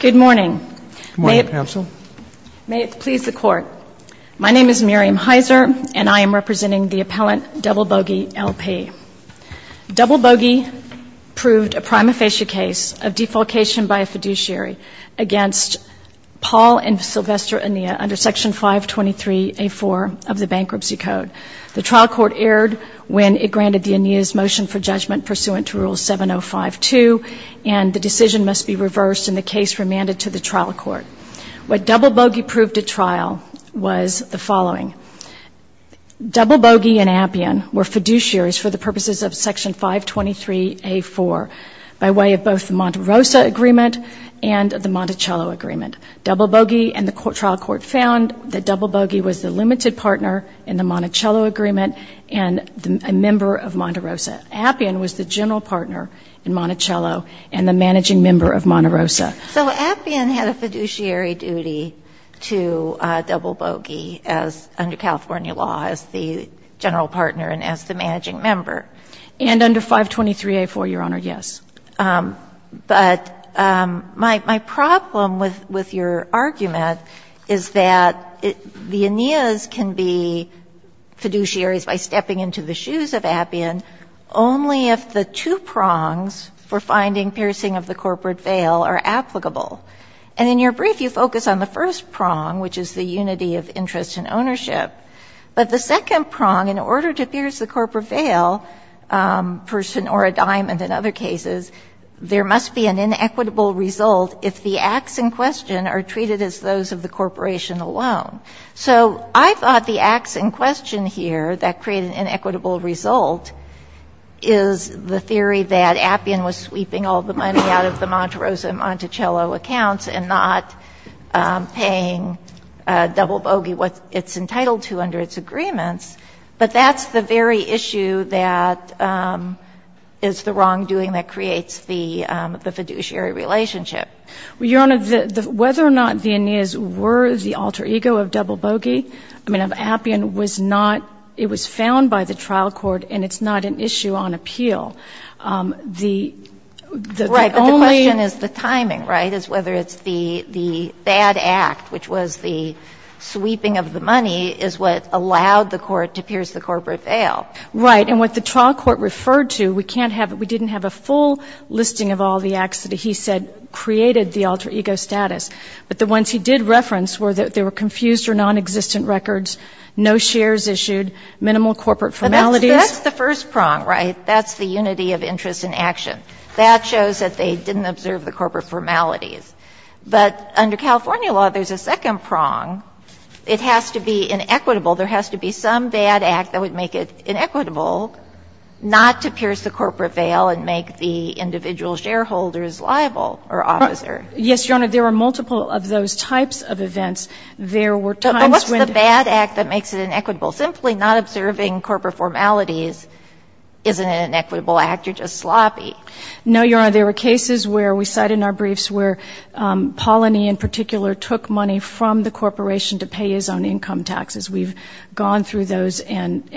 Good morning. May it please the court. My name is Miriam Heiser, and I am representing the appellant Double Bogey LP. Double Bogey proved a prima facie case of defalcation by a fiduciary against Paul and Sylvester Enea under Section 523A4 of the Bankruptcy Code. The trial court erred when it granted the Enea's motion for judgment pursuant to Rule case remanded to the trial court. What Double Bogey proved at trial was the following. Double Bogey and Appian were fiduciaries for the purposes of Section 523A4 by way of both the Montarosa Agreement and the Monticello Agreement. Double Bogey and the trial court found that Double Bogey was the limited partner in the Monticello Agreement and a member of Montarosa. Appian was the general partner in Monticello and the managing member of Montarosa. So Appian had a fiduciary duty to Double Bogey under California law as the general partner and as the managing member. And under 523A4, Your Honor, yes. But my problem with your argument is that the Enea's can be fiduciaries by stepping into the shoes of Appian only if the two prongs for finding piercing of the corporate veil are applicable. And in your brief, you focus on the first prong, which is the unity of interest and ownership. But the second prong, in order to pierce the corporate veil or a diamond in other cases, there must be an inequitable result if the acts in question are treated as those of the corporation alone. So I thought the acts in question here that create an inequitable result is the theory that Appian was sweeping all the money out of the Montarosa and Monticello accounts and not paying Double Bogey what it's entitled to under its agreements. But that's the very issue that is the wrongdoing that creates the fiduciary relationship. Well, Your Honor, whether or not the Enea's were the alter ego of Double Bogey, I mean, Appian was not – it was found by the trial court, and it's not an issue on appeal. The only – Right. But the question is the timing, right, is whether it's the bad act, which was the sweeping of the money, is what allowed the court to pierce the corporate veil. Right. And what the trial court referred to, we can't have – we didn't have a full listing of all the acts that he said created the alter ego status. But the ones he did reference were that they were confused or nonexistent records, no shares issued, minimal corporate formalities. But that's the first prong, right? That's the unity of interest in action. That shows that they didn't observe the corporate formalities. But under California law, there's a second prong. It has to be inequitable. There has to be some bad act that would make it inequitable not to pierce the corporate veil and make the individual shareholders liable or officer. Yes, Your Honor. There are multiple of those types of events. There were times when But what's the bad act that makes it inequitable? Simply not observing corporate formalities isn't an inequitable act. You're just sloppy. No, Your Honor. There were cases where – we cite in our briefs where Polanyi in particular took money from the corporation to pay his own income taxes. We've gone through those and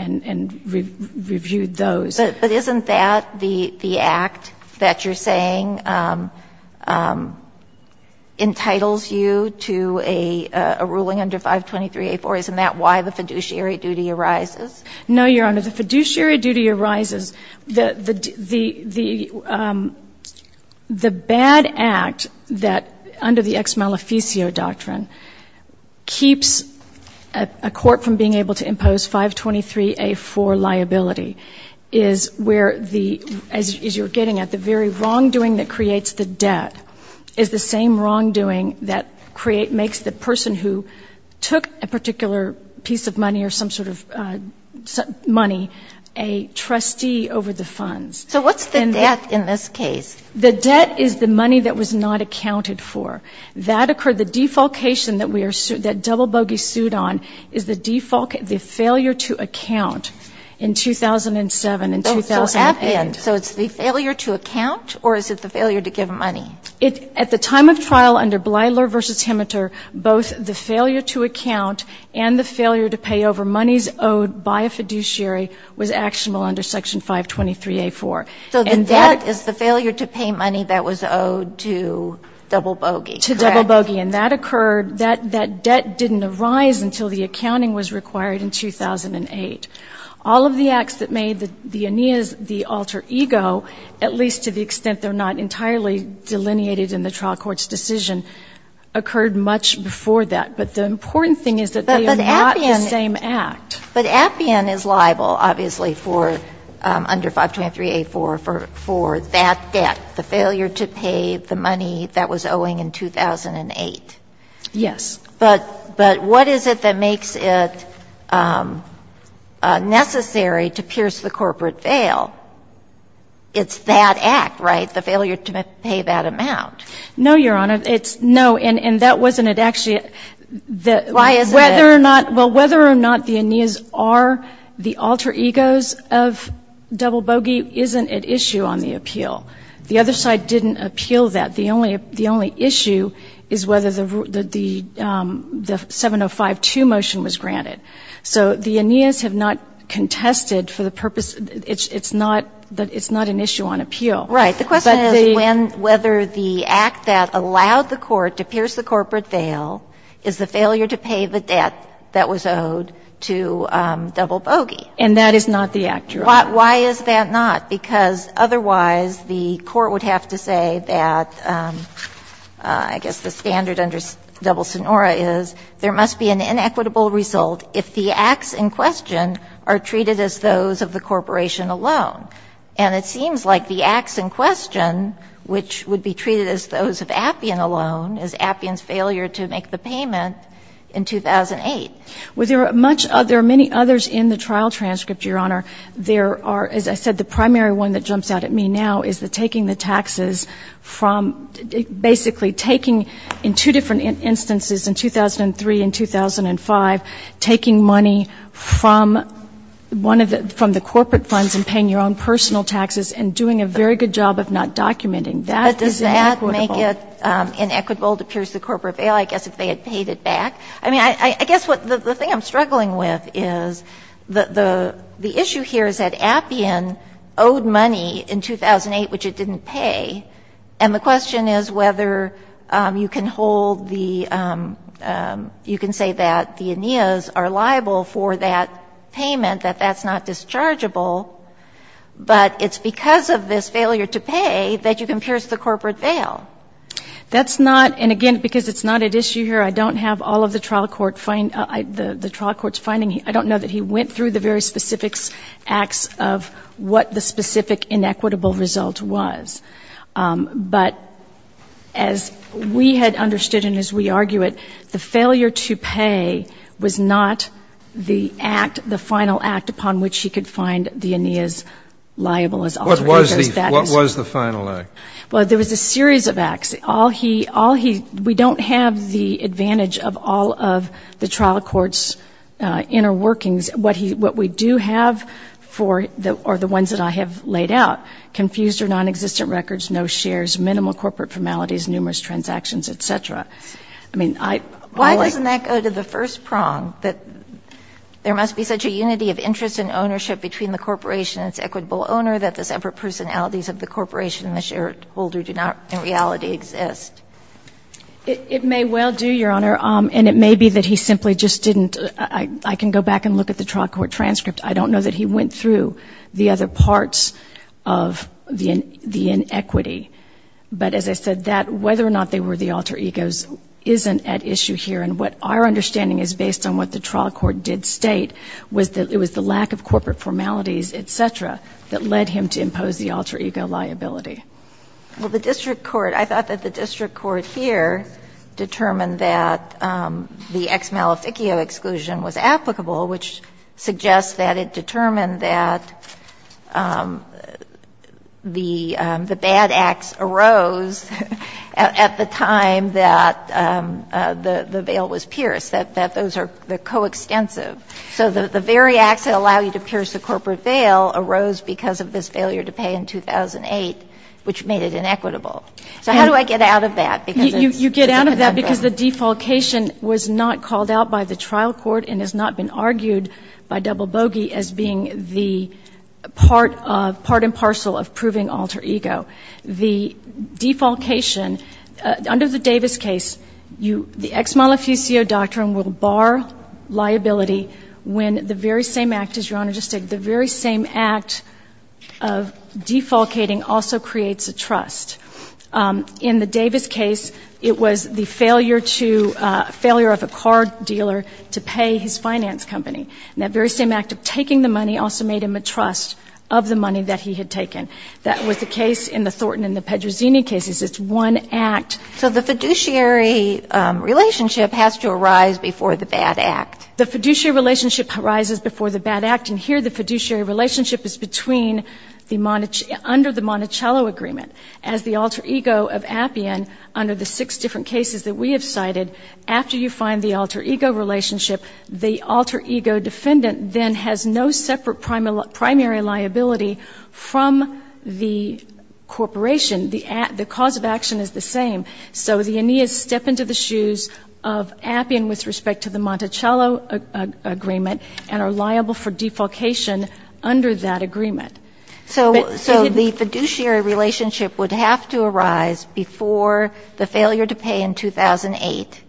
reviewed those. But isn't that the act that you're saying entitles you to a ruling under 523A4? Isn't that why the fiduciary duty arises? No, Your Honor. The fiduciary duty arises. The bad act that under the ex-maleficio doctrine keeps a court from being able to impose 523A4 liability is where the – as you're getting at, the very wrongdoing that creates the debt is the same wrongdoing that creates – makes the person who took a particular piece of money or some sort of money a trustee over the funds. So what's the debt in this case? The debt is the money that was not accounted for. That occurred – the defalcation that we are – that double bogey sued on is the defalcation – the failure to account in 2007 and 2008. So it's the failure to account or is it the failure to give money? At the time of trial under Blyler v. Himmeter, both the failure to account and the failure to pay over monies owed by a fiduciary was actionable under Section 523A4. So the debt is the failure to pay money that was owed to double bogey, correct? To double bogey. And that occurred – that debt didn't arise until the accounting was required in 2008. All of the acts that made the Aeneas the alter ego, at least to the extent they're not entirely delineated in the trial court's decision, occurred much before that. But the important thing is that they are not the same act. But Appian is liable, obviously, for – under 523A4 for that debt, the failure to pay the money that was owing in 2008. Yes. But what is it that makes it necessary to pierce the corporate veil? It's that act, right? The failure to pay that amount. No, Your Honor. It's – no, and that wasn't it. Actually, the – Why is it? Whether or not – well, whether or not the Aeneas are the alter egos of double bogey isn't at issue on the appeal. The other side didn't appeal that. The only – the only issue is whether the – the 705-2 motion was granted. So the Aeneas have not contested for the purpose – it's not – it's not an issue on appeal. But the – Right. The question is when – whether the act that allowed the court to pierce the corporate veil is the failure to pay the debt that was owed to double bogey. And that is not the act, Your Honor. Why is that not? Because otherwise, the court would have to say that, I guess the standard under double sonora is, there must be an inequitable result if the acts in question are treated as those of the corporation alone. And it seems like the acts in question, which would be treated as those of Appian alone, is Appian's failure to make the payment in 2008. Well, there are much – there are many others in the trial transcript, Your Honor. There are – as I said, the primary one that jumps out at me now is the taking the taxes from – basically taking in two different instances in 2003 and 2005, taking money from one of the – from the corporate funds and paying your own personal taxes, and doing a very good job of not documenting. That is inequitable. But does that make it inequitable to pierce the corporate veil, I guess, if they had paid it back? I mean, I guess what – the thing I'm struggling with is the issue here is that Appian owed money in 2008, which it didn't pay. And the question is whether you can hold the – you can say that the Aeneas are liable for that payment, that that's not dischargeable, but it's not dischargeable if the corporate because of this failure to pay that you can pierce the corporate veil. That's not – and again, because it's not at issue here, I don't have all of the trial court – the trial court's finding. I don't know that he went through the very specific acts of what the specific inequitable result was. But as we had understood and as we argue it, the failure to pay was not the act, the final act upon which he could find the Aeneas liable as alternative status. What was the – what was the final act? Well, there was a series of acts. All he – all he – we don't have the advantage of all of the trial court's inner workings. What he – what we do have for – or the ones that I have laid out, confused or nonexistent records, no shares, minimal corporate formalities, numerous transactions, et cetera. I mean, I – Why doesn't that go to the first prong, that there must be such a unity of interest and ownership between the corporation and its equitable owner, that the separate personalities of the corporation and the shareholder do not in reality exist? It may well do, Your Honor. And it may be that he simply just didn't – I can go back and look at the trial court transcript. I don't know that he went through the other parts of the inequity. But as I said, that – whether or not they were the alter egos isn't at issue here. And what our understanding is, based on what the trial court did state, was that it was the lack of corporate formalities, et cetera, that led him to impose the alter ego liability. Well, the district court – I thought that the district court here determined that the ex-maleficio exclusion was applicable, which suggests that it determined that the – the bad acts arose at the time that the – the veil was pierced, that those are – they're coextensive. So the very acts that allow you to pierce the corporate veil arose because of this failure to pay in 2008, which made it inequitable. So how do I get out of that? Because it's a conundrum. You get out of that because the defalcation was not called out by the trial court and has not been argued by double bogey as being the part of – part and parcel of proving alter ego. The defalcation – under the Davis case, you – the ex-maleficio doctrine will bar liability when the very same act, as Your Honor just said, the very same act of defalcating also creates a trust. In the Davis case, it was the failure to – failure of a car dealer to pay his finance company, and that very same act of taking the money also made him a trust of the money that he had taken. That was the case in the Thornton and the Pedrozini cases. It's one act. So the fiduciary relationship has to arise before the bad act. The fiduciary relationship arises before the bad act. And here the fiduciary relationship is between the – under the Monticello agreement. As the alter ego of Appian, under the six different cases that we have cited, after you find the alter ego relationship, the alter ego defendant then has no separate primary liability from the corporation. The cause of action is the same. So the Aeneas step into the shoes of Appian with respect to the Monticello agreement and are liable for defalcation under that agreement. So the fiduciary relationship would have to arise before the failure to pay in 2008.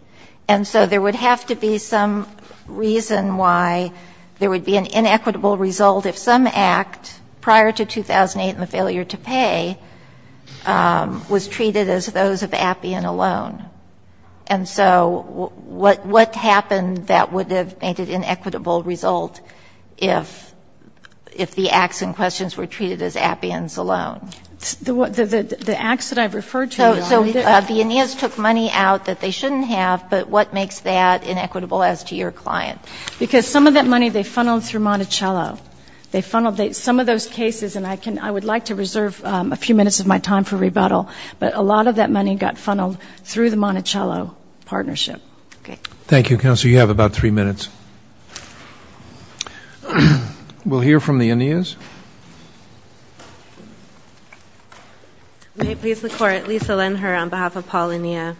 And so there would have to be some reason why there would be an inequitable result if some act prior to 2008 and the failure to pay was treated as those of Appian alone. And so what happened that would have made an inequitable result if the acts and questions were treated as Appian's alone? The acts that I've referred to. So the Aeneas took money out that they shouldn't have, but what makes that inequitable as to your client? Because some of that money they funneled through Monticello. Some of those cases, and I would like to reserve a few minutes of my time for rebuttal, but a lot of that money got funneled through the Monticello partnership. Thank you, counsel. You have about three minutes. We'll hear from the Aeneas. May it please the Court, Lisa Lenher on behalf of Paul Aeneas.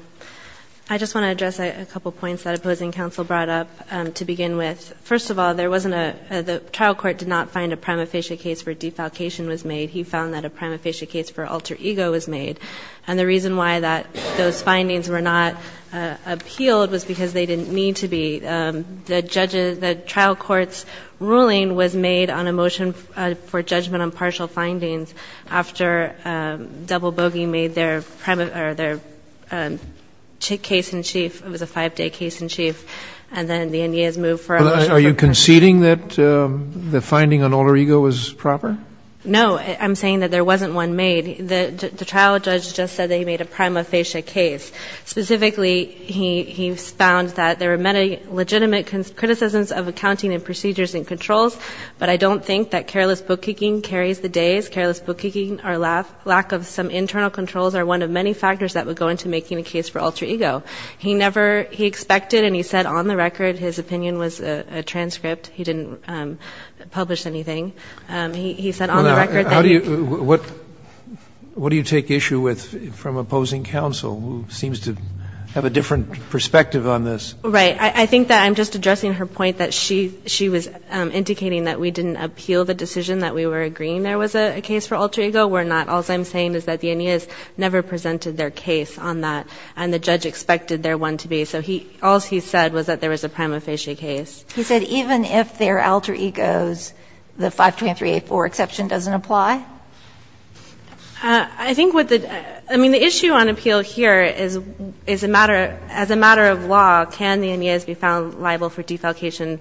I just want to address a point that the opposing counsel brought up to begin with. First of all, the trial court did not find a prima facie case where defalcation was made. He found that a prima facie case for alter ego was made. And the reason why those findings were not appealed was because they didn't need to be. The trial court's ruling was made on a motion for judgment on partial findings after double bogey made their case in chief. It was a five-day case in chief and then the Aeneas moved for a motion for judgment. Are you conceding that the finding on alter ego was proper? No. I'm saying that there wasn't one made. The trial judge just said that he made a prima facie case. Specifically, he found that there were many legitimate criticisms of accounting and procedures and controls, but I don't think that careless bookkeeping carries the days. I think that careless bookkeeping or lack of some internal controls are one of many factors that would go into making a case for alter ego. He never he expected and he said on the record his opinion was a transcript. He didn't publish anything. He said on the record that he What do you take issue with from opposing counsel who seems to have a different perspective on this? Right. I think that I'm just addressing her point that she was indicating that we didn't appeal the decision that we were agreeing there was a case for alter ego. We're not. All I'm saying is that the Aeneas never presented their case on that and the judge expected there one to be. So all he said was that there was a prima facie case. He said even if there are alter egos, the 523A4 exception doesn't apply? I think what the, I mean, the issue on appeal here is a matter, as a matter of law, can the Aeneas be found liable for defalcation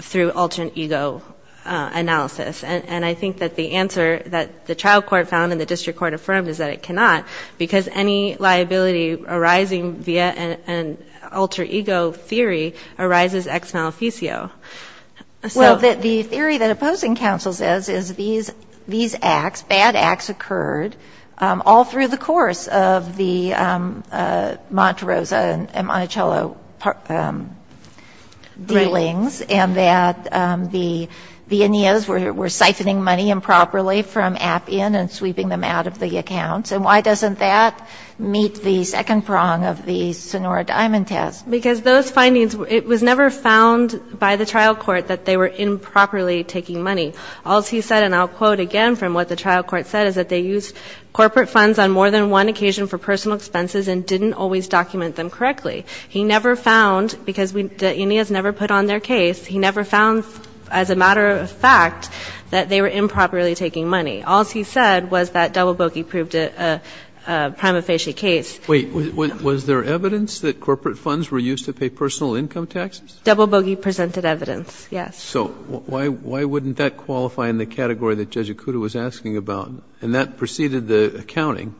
through alter ego analysis? And I think that the answer that the trial court found and the district court affirmed is that it cannot because any liability arising via an alter ego theory arises ex maleficio. Well, the theory that opposing counsel says is these acts, bad acts occurred all through the course of the Montrose and Monticello dealings and that the Aeneas were siphoning money improperly from Appian and sweeping them out of the accounts. And why doesn't that meet the second prong of the Sonora Diamond test? Because those findings, it was never found by the trial court that they were improperly taking money. All he said, and I'll quote again from what the trial court said, is that they used corporate funds on more than one occasion for personal expenses and didn't always document them correctly. He never found, because the Aeneas never put on their case, he never found as a matter of fact that they were improperly taking money. All he said was that double bogey proved a prima facie case. Wait. Was there evidence that corporate funds were used to pay personal income taxes? Double bogey presented evidence, yes. So why wouldn't that qualify in the category that Judge Ikuda was asking about? And that preceded the accounting.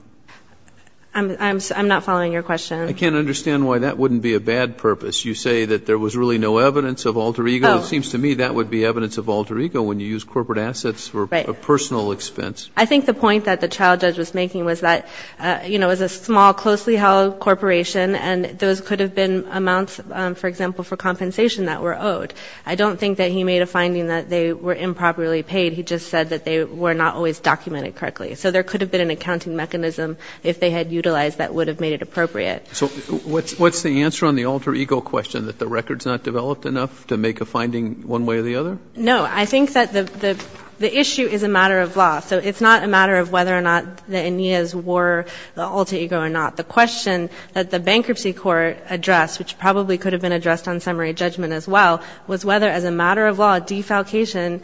I'm not following your question. I can't understand why that wouldn't be a bad purpose. You say that there was really no evidence of alter ego. It seems to me that would be evidence of alter ego when you use corporate assets for a personal expense. I think the point that the trial judge was making was that, you know, it was a small, closely held corporation and those could have been amounts, for example, for compensation that were owed. I don't think that he made a finding that they were improperly paid. He just said that they were not always documented correctly. So there could have been an accounting mechanism if they had utilized that would have made it appropriate. So what's the answer on the alter ego question, that the record's not developed enough to make a finding one way or the other? No. I think that the issue is a matter of law. So it's not a matter of whether or not the Aeneas were the alter ego or not. The question that the bankruptcy court addressed, which probably could have been a matter of law, was whether, as a matter of law, defalcation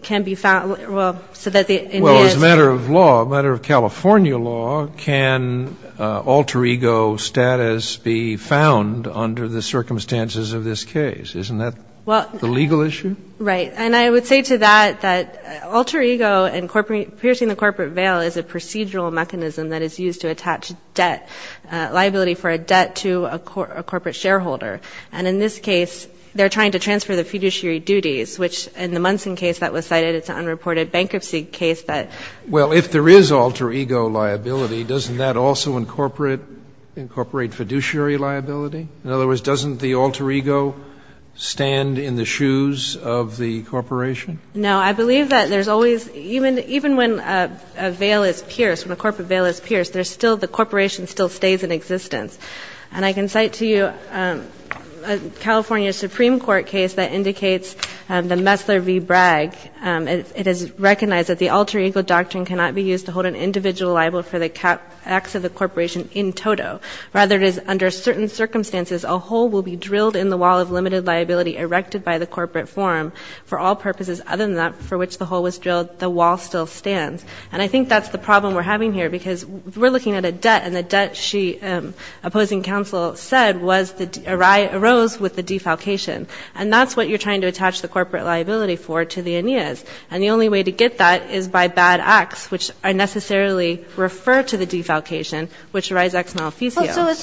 can be found. Well, so that the Aeneas. Well, as a matter of law, a matter of California law, can alter ego status be found under the circumstances of this case? Isn't that the legal issue? Right. And I would say to that that alter ego and piercing the corporate veil is a procedural mechanism that is used to attach debt, liability for a debt to a corporate shareholder. And in this case, they're trying to transfer the fiduciary duties, which in the Munson case that was cited, it's an unreported bankruptcy case that. Well, if there is alter ego liability, doesn't that also incorporate fiduciary liability? In other words, doesn't the alter ego stand in the shoes of the corporation? No. I believe that there's always, even when a veil is pierced, when a corporate And I can cite to you a California Supreme Court case that indicates the Messler v. Bragg. It is recognized that the alter ego doctrine cannot be used to hold an individual liable for the acts of the corporation in toto. Rather, it is under certain circumstances, a hole will be drilled in the wall of limited liability erected by the corporate forum. For all purposes other than that for which the hole was drilled, the wall still stands. And I think that's the problem we're having here because we're looking at a debt and the debt she, opposing counsel, said arose with the defalcation. And that's what you're trying to attach the corporate liability for to the Aeneas. And the only way to get that is by bad acts, which unnecessarily refer to the defalcation, which arise ex maleficio. Well, so it's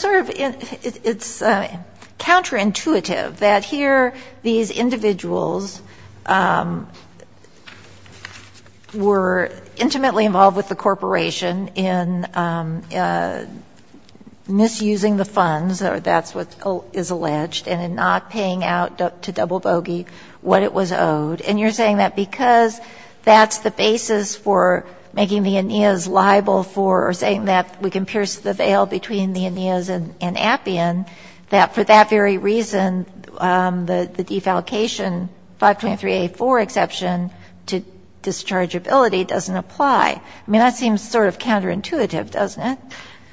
sort of counterintuitive that here these individuals were intimately involved with the corporation in misusing the funds, or that's what is alleged, and in not paying out to double bogey what it was owed. And you're saying that because that's the basis for making the Aeneas liable for, or saying that we can pierce the veil between the Aeneas and Appian, that for that very reason, the defalcation, 523A4 exception to dischargeability doesn't apply. I mean, that seems sort of counterintuitive, doesn't it?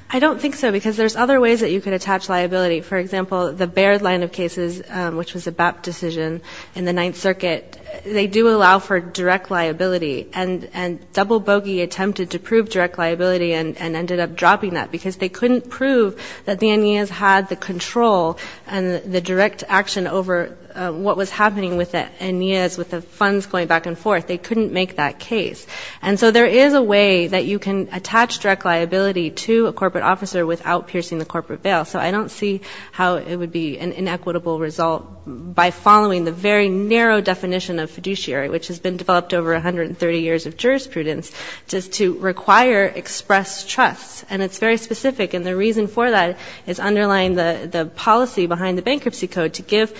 I don't think so because there's other ways that you could attach liability. For example, the Baird line of cases, which was a BAP decision in the Ninth Circuit, they do allow for direct liability. And double bogey attempted to prove direct liability and ended up dropping that because they couldn't prove that the Aeneas had the control and the direct action over what was happening with the Aeneas, with the funds going back and forth. They couldn't make that case. And so there is a way that you can attach direct liability to a corporate officer without piercing the corporate veil. So I don't see how it would be an inequitable result by following the very narrow definition of fiduciary, which has been developed over 130 years of jurisprudence, just to require expressed trust. And it's very specific. And the reason for that is underlying the policy behind the bankruptcy code to give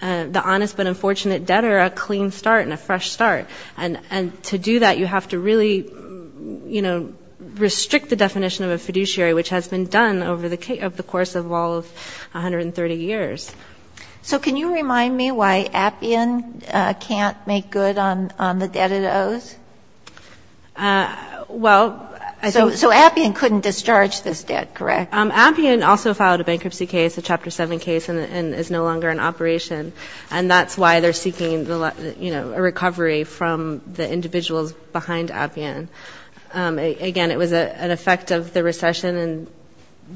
the honest but unfortunate debtor a clean start and a fresh start. And to do that, you have to really, you know, restrict the definition of a fiduciary, which has been done over the course of all of 130 years. So can you remind me why Appian can't make good on the debt it owes? Well, I don't know. So Appian couldn't discharge this debt, correct? Appian also filed a bankruptcy case, a Chapter 7 case, and is no longer in operation. And that's why they're seeking, you know, a recovery from the individuals behind Appian. Again, it was an effect of the recession, and,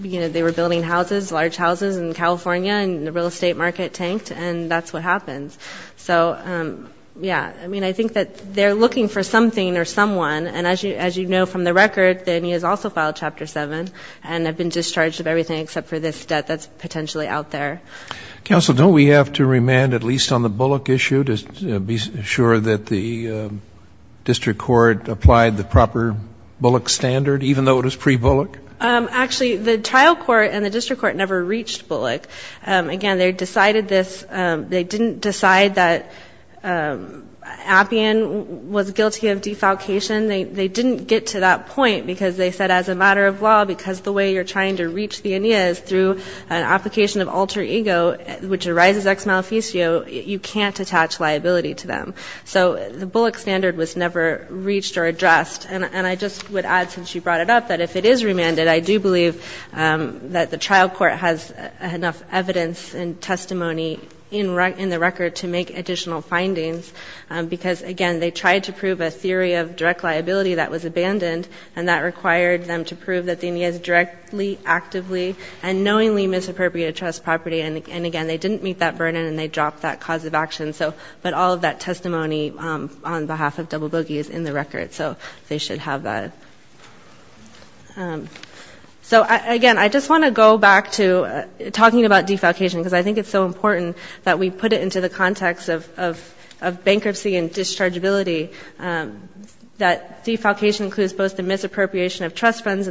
you know, they were building houses, large houses in California, and the real estate market tanked, and that's what happened. So, yeah, I mean, I think that they're looking for something or someone, and as you know from the record, they have also filed Chapter 7 and have been discharged of everything except for this debt that's potentially out there. Counsel, don't we have to remand at least on the Bullock issue to be sure that the district court applied the proper Bullock standard, even though it was pre-Bullock? Actually, the trial court and the district court never reached Bullock. Again, they decided this. They didn't decide that Appian was guilty of defalcation. They didn't get to that point because they said as a matter of law, because the way you're trying to reach the ANEA is through an application of alter ego, which arises ex-maleficio, you can't attach liability to them. So the Bullock standard was never reached or addressed. And I just would add, since you brought it up, that if it is remanded, I do believe that the trial court has enough evidence and testimony in the record to make additional findings because, again, they tried to prove a theory of direct liability that was abandoned, and that required them to prove that the property, and again, they didn't meet that burden, and they dropped that cause of action. But all of that testimony on behalf of Double Boogie is in the record. So they should have that. So, again, I just want to go back to talking about defalcation because I think it's so important that we put it into the context of bankruptcy and dischargeability, that defalcation includes both the misappropriation of funds,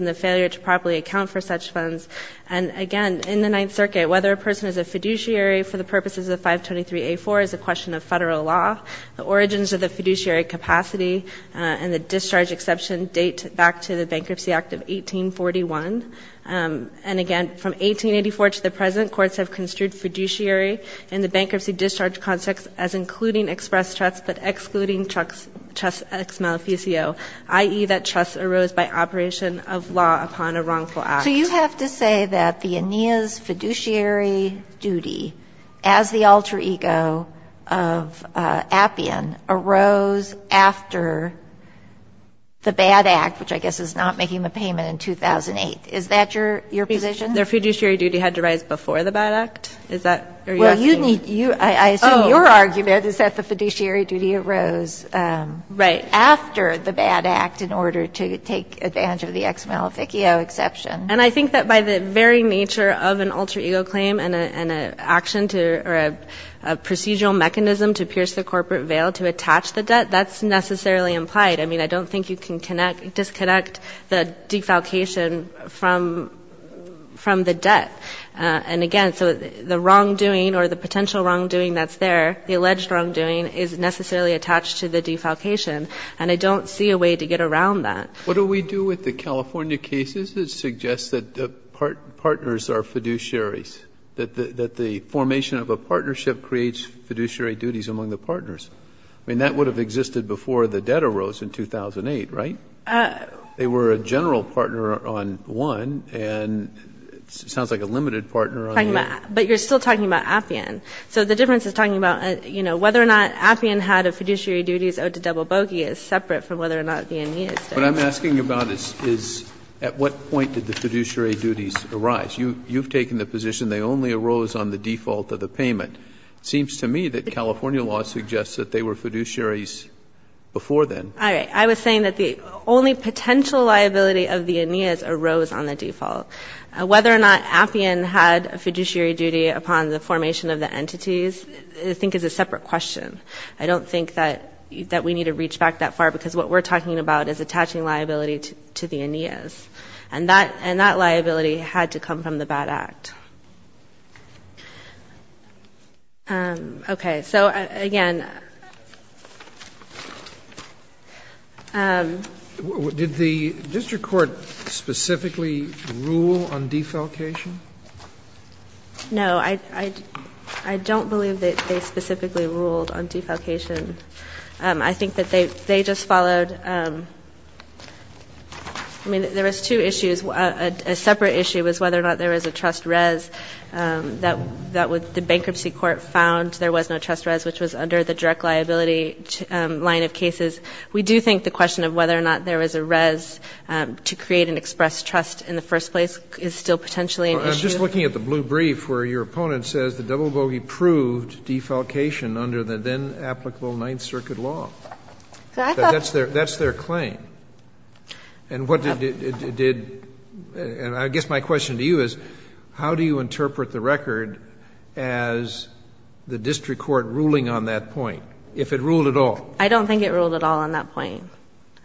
and, again, in the Ninth Circuit, whether a person is a fiduciary for the purposes of 523A4 is a question of federal law. The origins of the fiduciary capacity and the discharge exception date back to the Bankruptcy Act of 1841. And, again, from 1884 to the present, courts have construed fiduciary in the bankruptcy discharge context as including express trust but excluding trust ex-maleficio, i.e., that trust arose by operation of law upon a contract. So you have to say that the Aeneas fiduciary duty as the alter ego of Appian arose after the BAD Act, which I guess is not making the payment in 2008. Is that your position? The fiduciary duty had to rise before the BAD Act? Is that what you're asking? Well, I assume your argument is that the fiduciary duty arose after the BAD Act in order to take advantage of the ex-maleficio exception. And I think that by the very nature of an alter ego claim and an action to or a procedural mechanism to pierce the corporate veil to attach the debt, that's necessarily implied. I mean, I don't think you can disconnect the defalcation from the debt. And, again, so the wrongdoing or the potential wrongdoing that's there, the alleged wrongdoing, is necessarily attached to the defalcation. And I don't see a way to get around that. What do we do with the California cases that suggest that partners are fiduciaries, that the formation of a partnership creates fiduciary duties among the partners? I mean, that would have existed before the debt arose in 2008, right? They were a general partner on one and it sounds like a limited partner on the other. But you're still talking about Appian. So the difference is talking about, you know, whether or not Appian had a fiduciary duties owed to Double Bogey is separate from whether or not the Aeneas did. But I'm asking about is at what point did the fiduciary duties arise? You've taken the position they only arose on the default of the payment. It seems to me that California law suggests that they were fiduciaries before then. All right. I was saying that the only potential liability of the Aeneas arose on the default. Whether or not Appian had a fiduciary duty upon the formation of the entities I think is a separate question. I don't think that we need to reach back that far because what we're talking about is attaching liability to the Aeneas. And that liability had to come from the BAD Act. Okay. So, again, did the district court specifically rule on defalcation? No. I don't believe that they specifically ruled on defalcation. I think that they just followed ‑‑ I mean, there was two issues. A separate issue was whether or not there was a trust res that the bankruptcy court found there was no trust res, which was under the direct liability line of cases. We do think the question of whether or not there was a res to create an express trust in the first place is still potentially an issue. I'm just looking at the blue brief where your opponent says the double bogey proved defalcation under the then applicable Ninth Circuit law. That's their claim. And what did ‑‑ I guess my question to you is how do you interpret the record as the district court ruling on that point, if it ruled at all? I don't think it ruled at all on that point.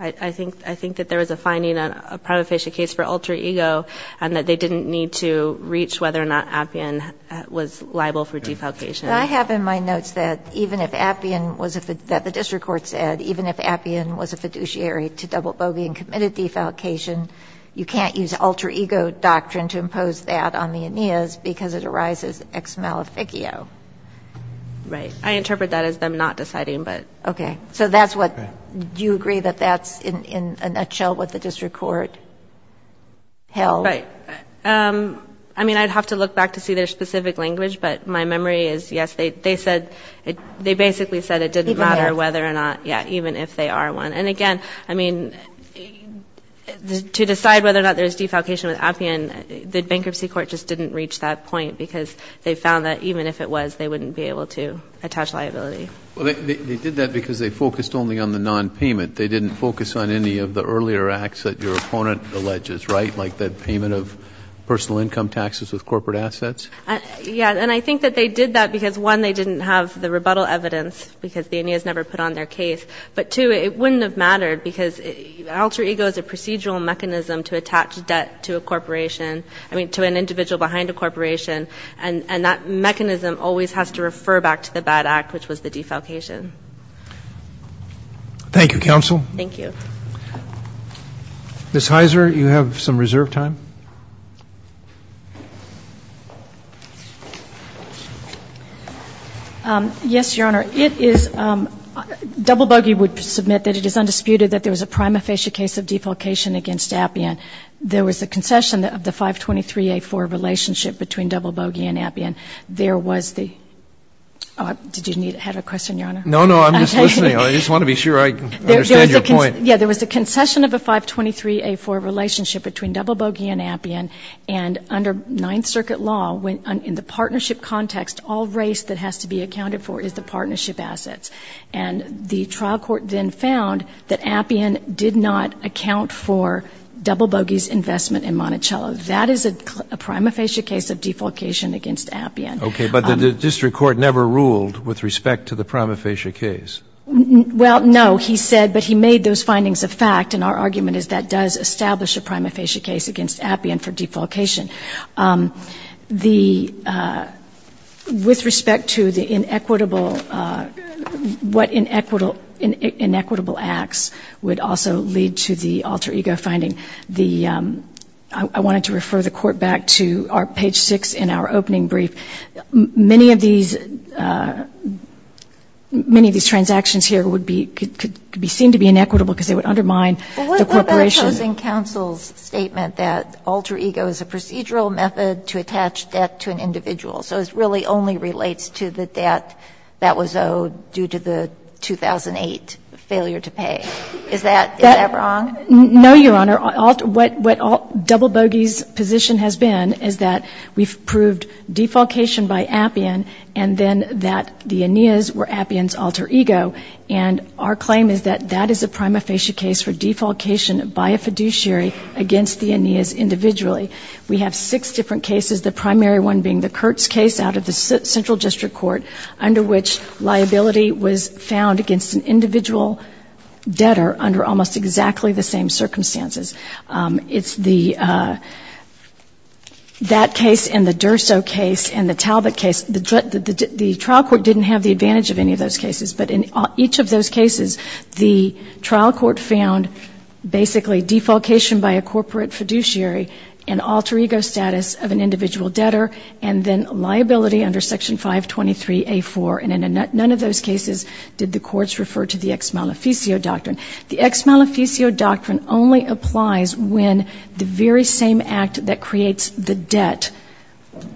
I think that there was a finding on a prima facie case for alter ego and that they didn't need to reach whether or not Appian was liable for defalcation. But I have in my notes that even if Appian was a ‑‑ that the district court said, even if Appian was a fiduciary to double bogey and committed defalcation, you can't use alter ego doctrine to impose that on the Aeneas because it arises ex maleficio. Right. I interpret that as them not deciding, but ‑‑ Okay. So that's what ‑‑ do you agree that that's in a nutshell what the district court held? Right. I mean, I'd have to look back to see their specific language, but my memory is, yes, they said ‑‑ they basically said it didn't matter whether or not, yeah, even if they are one. And, again, I mean, to decide whether or not there's defalcation with Appian, the bankruptcy court just didn't reach that point because they found that even if it was, they wouldn't be able to attach liability. Well, they did that because they focused only on the nonpayment. They didn't focus on any of the earlier acts that your opponent alleges, right, like that payment of personal income taxes with corporate assets? Yeah. And I think that they did that because, one, they didn't have the rebuttal evidence because the Aeneas never put on their case. But, two, it wouldn't have mattered because alter ego is a procedural mechanism to attach debt to a corporation, I mean, to an individual behind a corporation, and that mechanism always has to refer back to the bad act, which was the defalcation. Thank you, counsel. Thank you. Ms. Heiser, you have some reserve time. Yes, Your Honor. It is ‑‑ Double Bogey would submit that it is undisputed that there was a prima facie case of defalcation against Appian. There was a concession of the 523A4 relationship between Double Bogey and Appian. Did you have a question, Your Honor? No, no. I'm just listening. I just want to be sure I understand your point. Yeah. There was a concession of a 523A4 relationship between Double Bogey and Appian, and under Ninth Circuit law, in the partnership context, all race that has to be accounted for is the partnership assets. And the trial court then found that Appian did not account for Double Bogey's investment in Monticello. That is a prima facie case of defalcation against Appian. Okay. But the district court never ruled with respect to the prima facie case. Well, no. He said, but he made those findings a fact, and our argument is that does establish a prima facie case against Appian for defalcation. The ‑‑ with respect to the inequitable ‑‑ what inequitable acts would also lead to the alter ego finding. I wanted to refer the Court back to our page 6 in our opening brief. Many of these ‑‑ many of these transactions here would be ‑‑ could be seen to be inequitable because they would undermine the corporation. But what about opposing counsel's statement that alter ego is a procedural method to attach debt to an individual? So it really only relates to the debt that was owed due to the 2008 failure to pay. Is that wrong? No, Your Honor. What Double Bogey's position has been is that we've proved defalcation by Appian and then that the Aeneas were Appian's alter ego. And our claim is that that is a prima facie case for defalcation by a fiduciary against the Aeneas individually. We have six different cases, the primary one being the Kurtz case out of the central district court under which liability was found against an individual debtor under almost exactly the same circumstances. It's the ‑‑ that case and the Durso case and the Talbot case. The trial court didn't have the advantage of any of those cases. But in each of those cases, the trial court found basically defalcation by a corporate fiduciary and alter ego status of an individual debtor and then liability under Section 523A4. And in none of those cases did the courts refer to the ex maleficio doctrine. The ex maleficio doctrine only applies when the very same act that creates the debt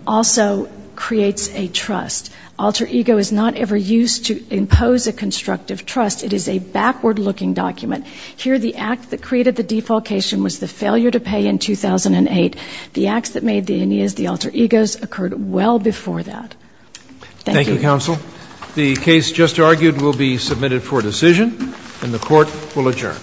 also creates a trust. Alter ego is not ever used to impose a constructive trust. It is a backward looking document. Here the act that created the defalcation was the failure to pay in 2008. The acts that made the Aeneas the alter egos occurred well before that. Thank you. Thank you, counsel. The case just argued will be submitted for decision and the court will adjourn.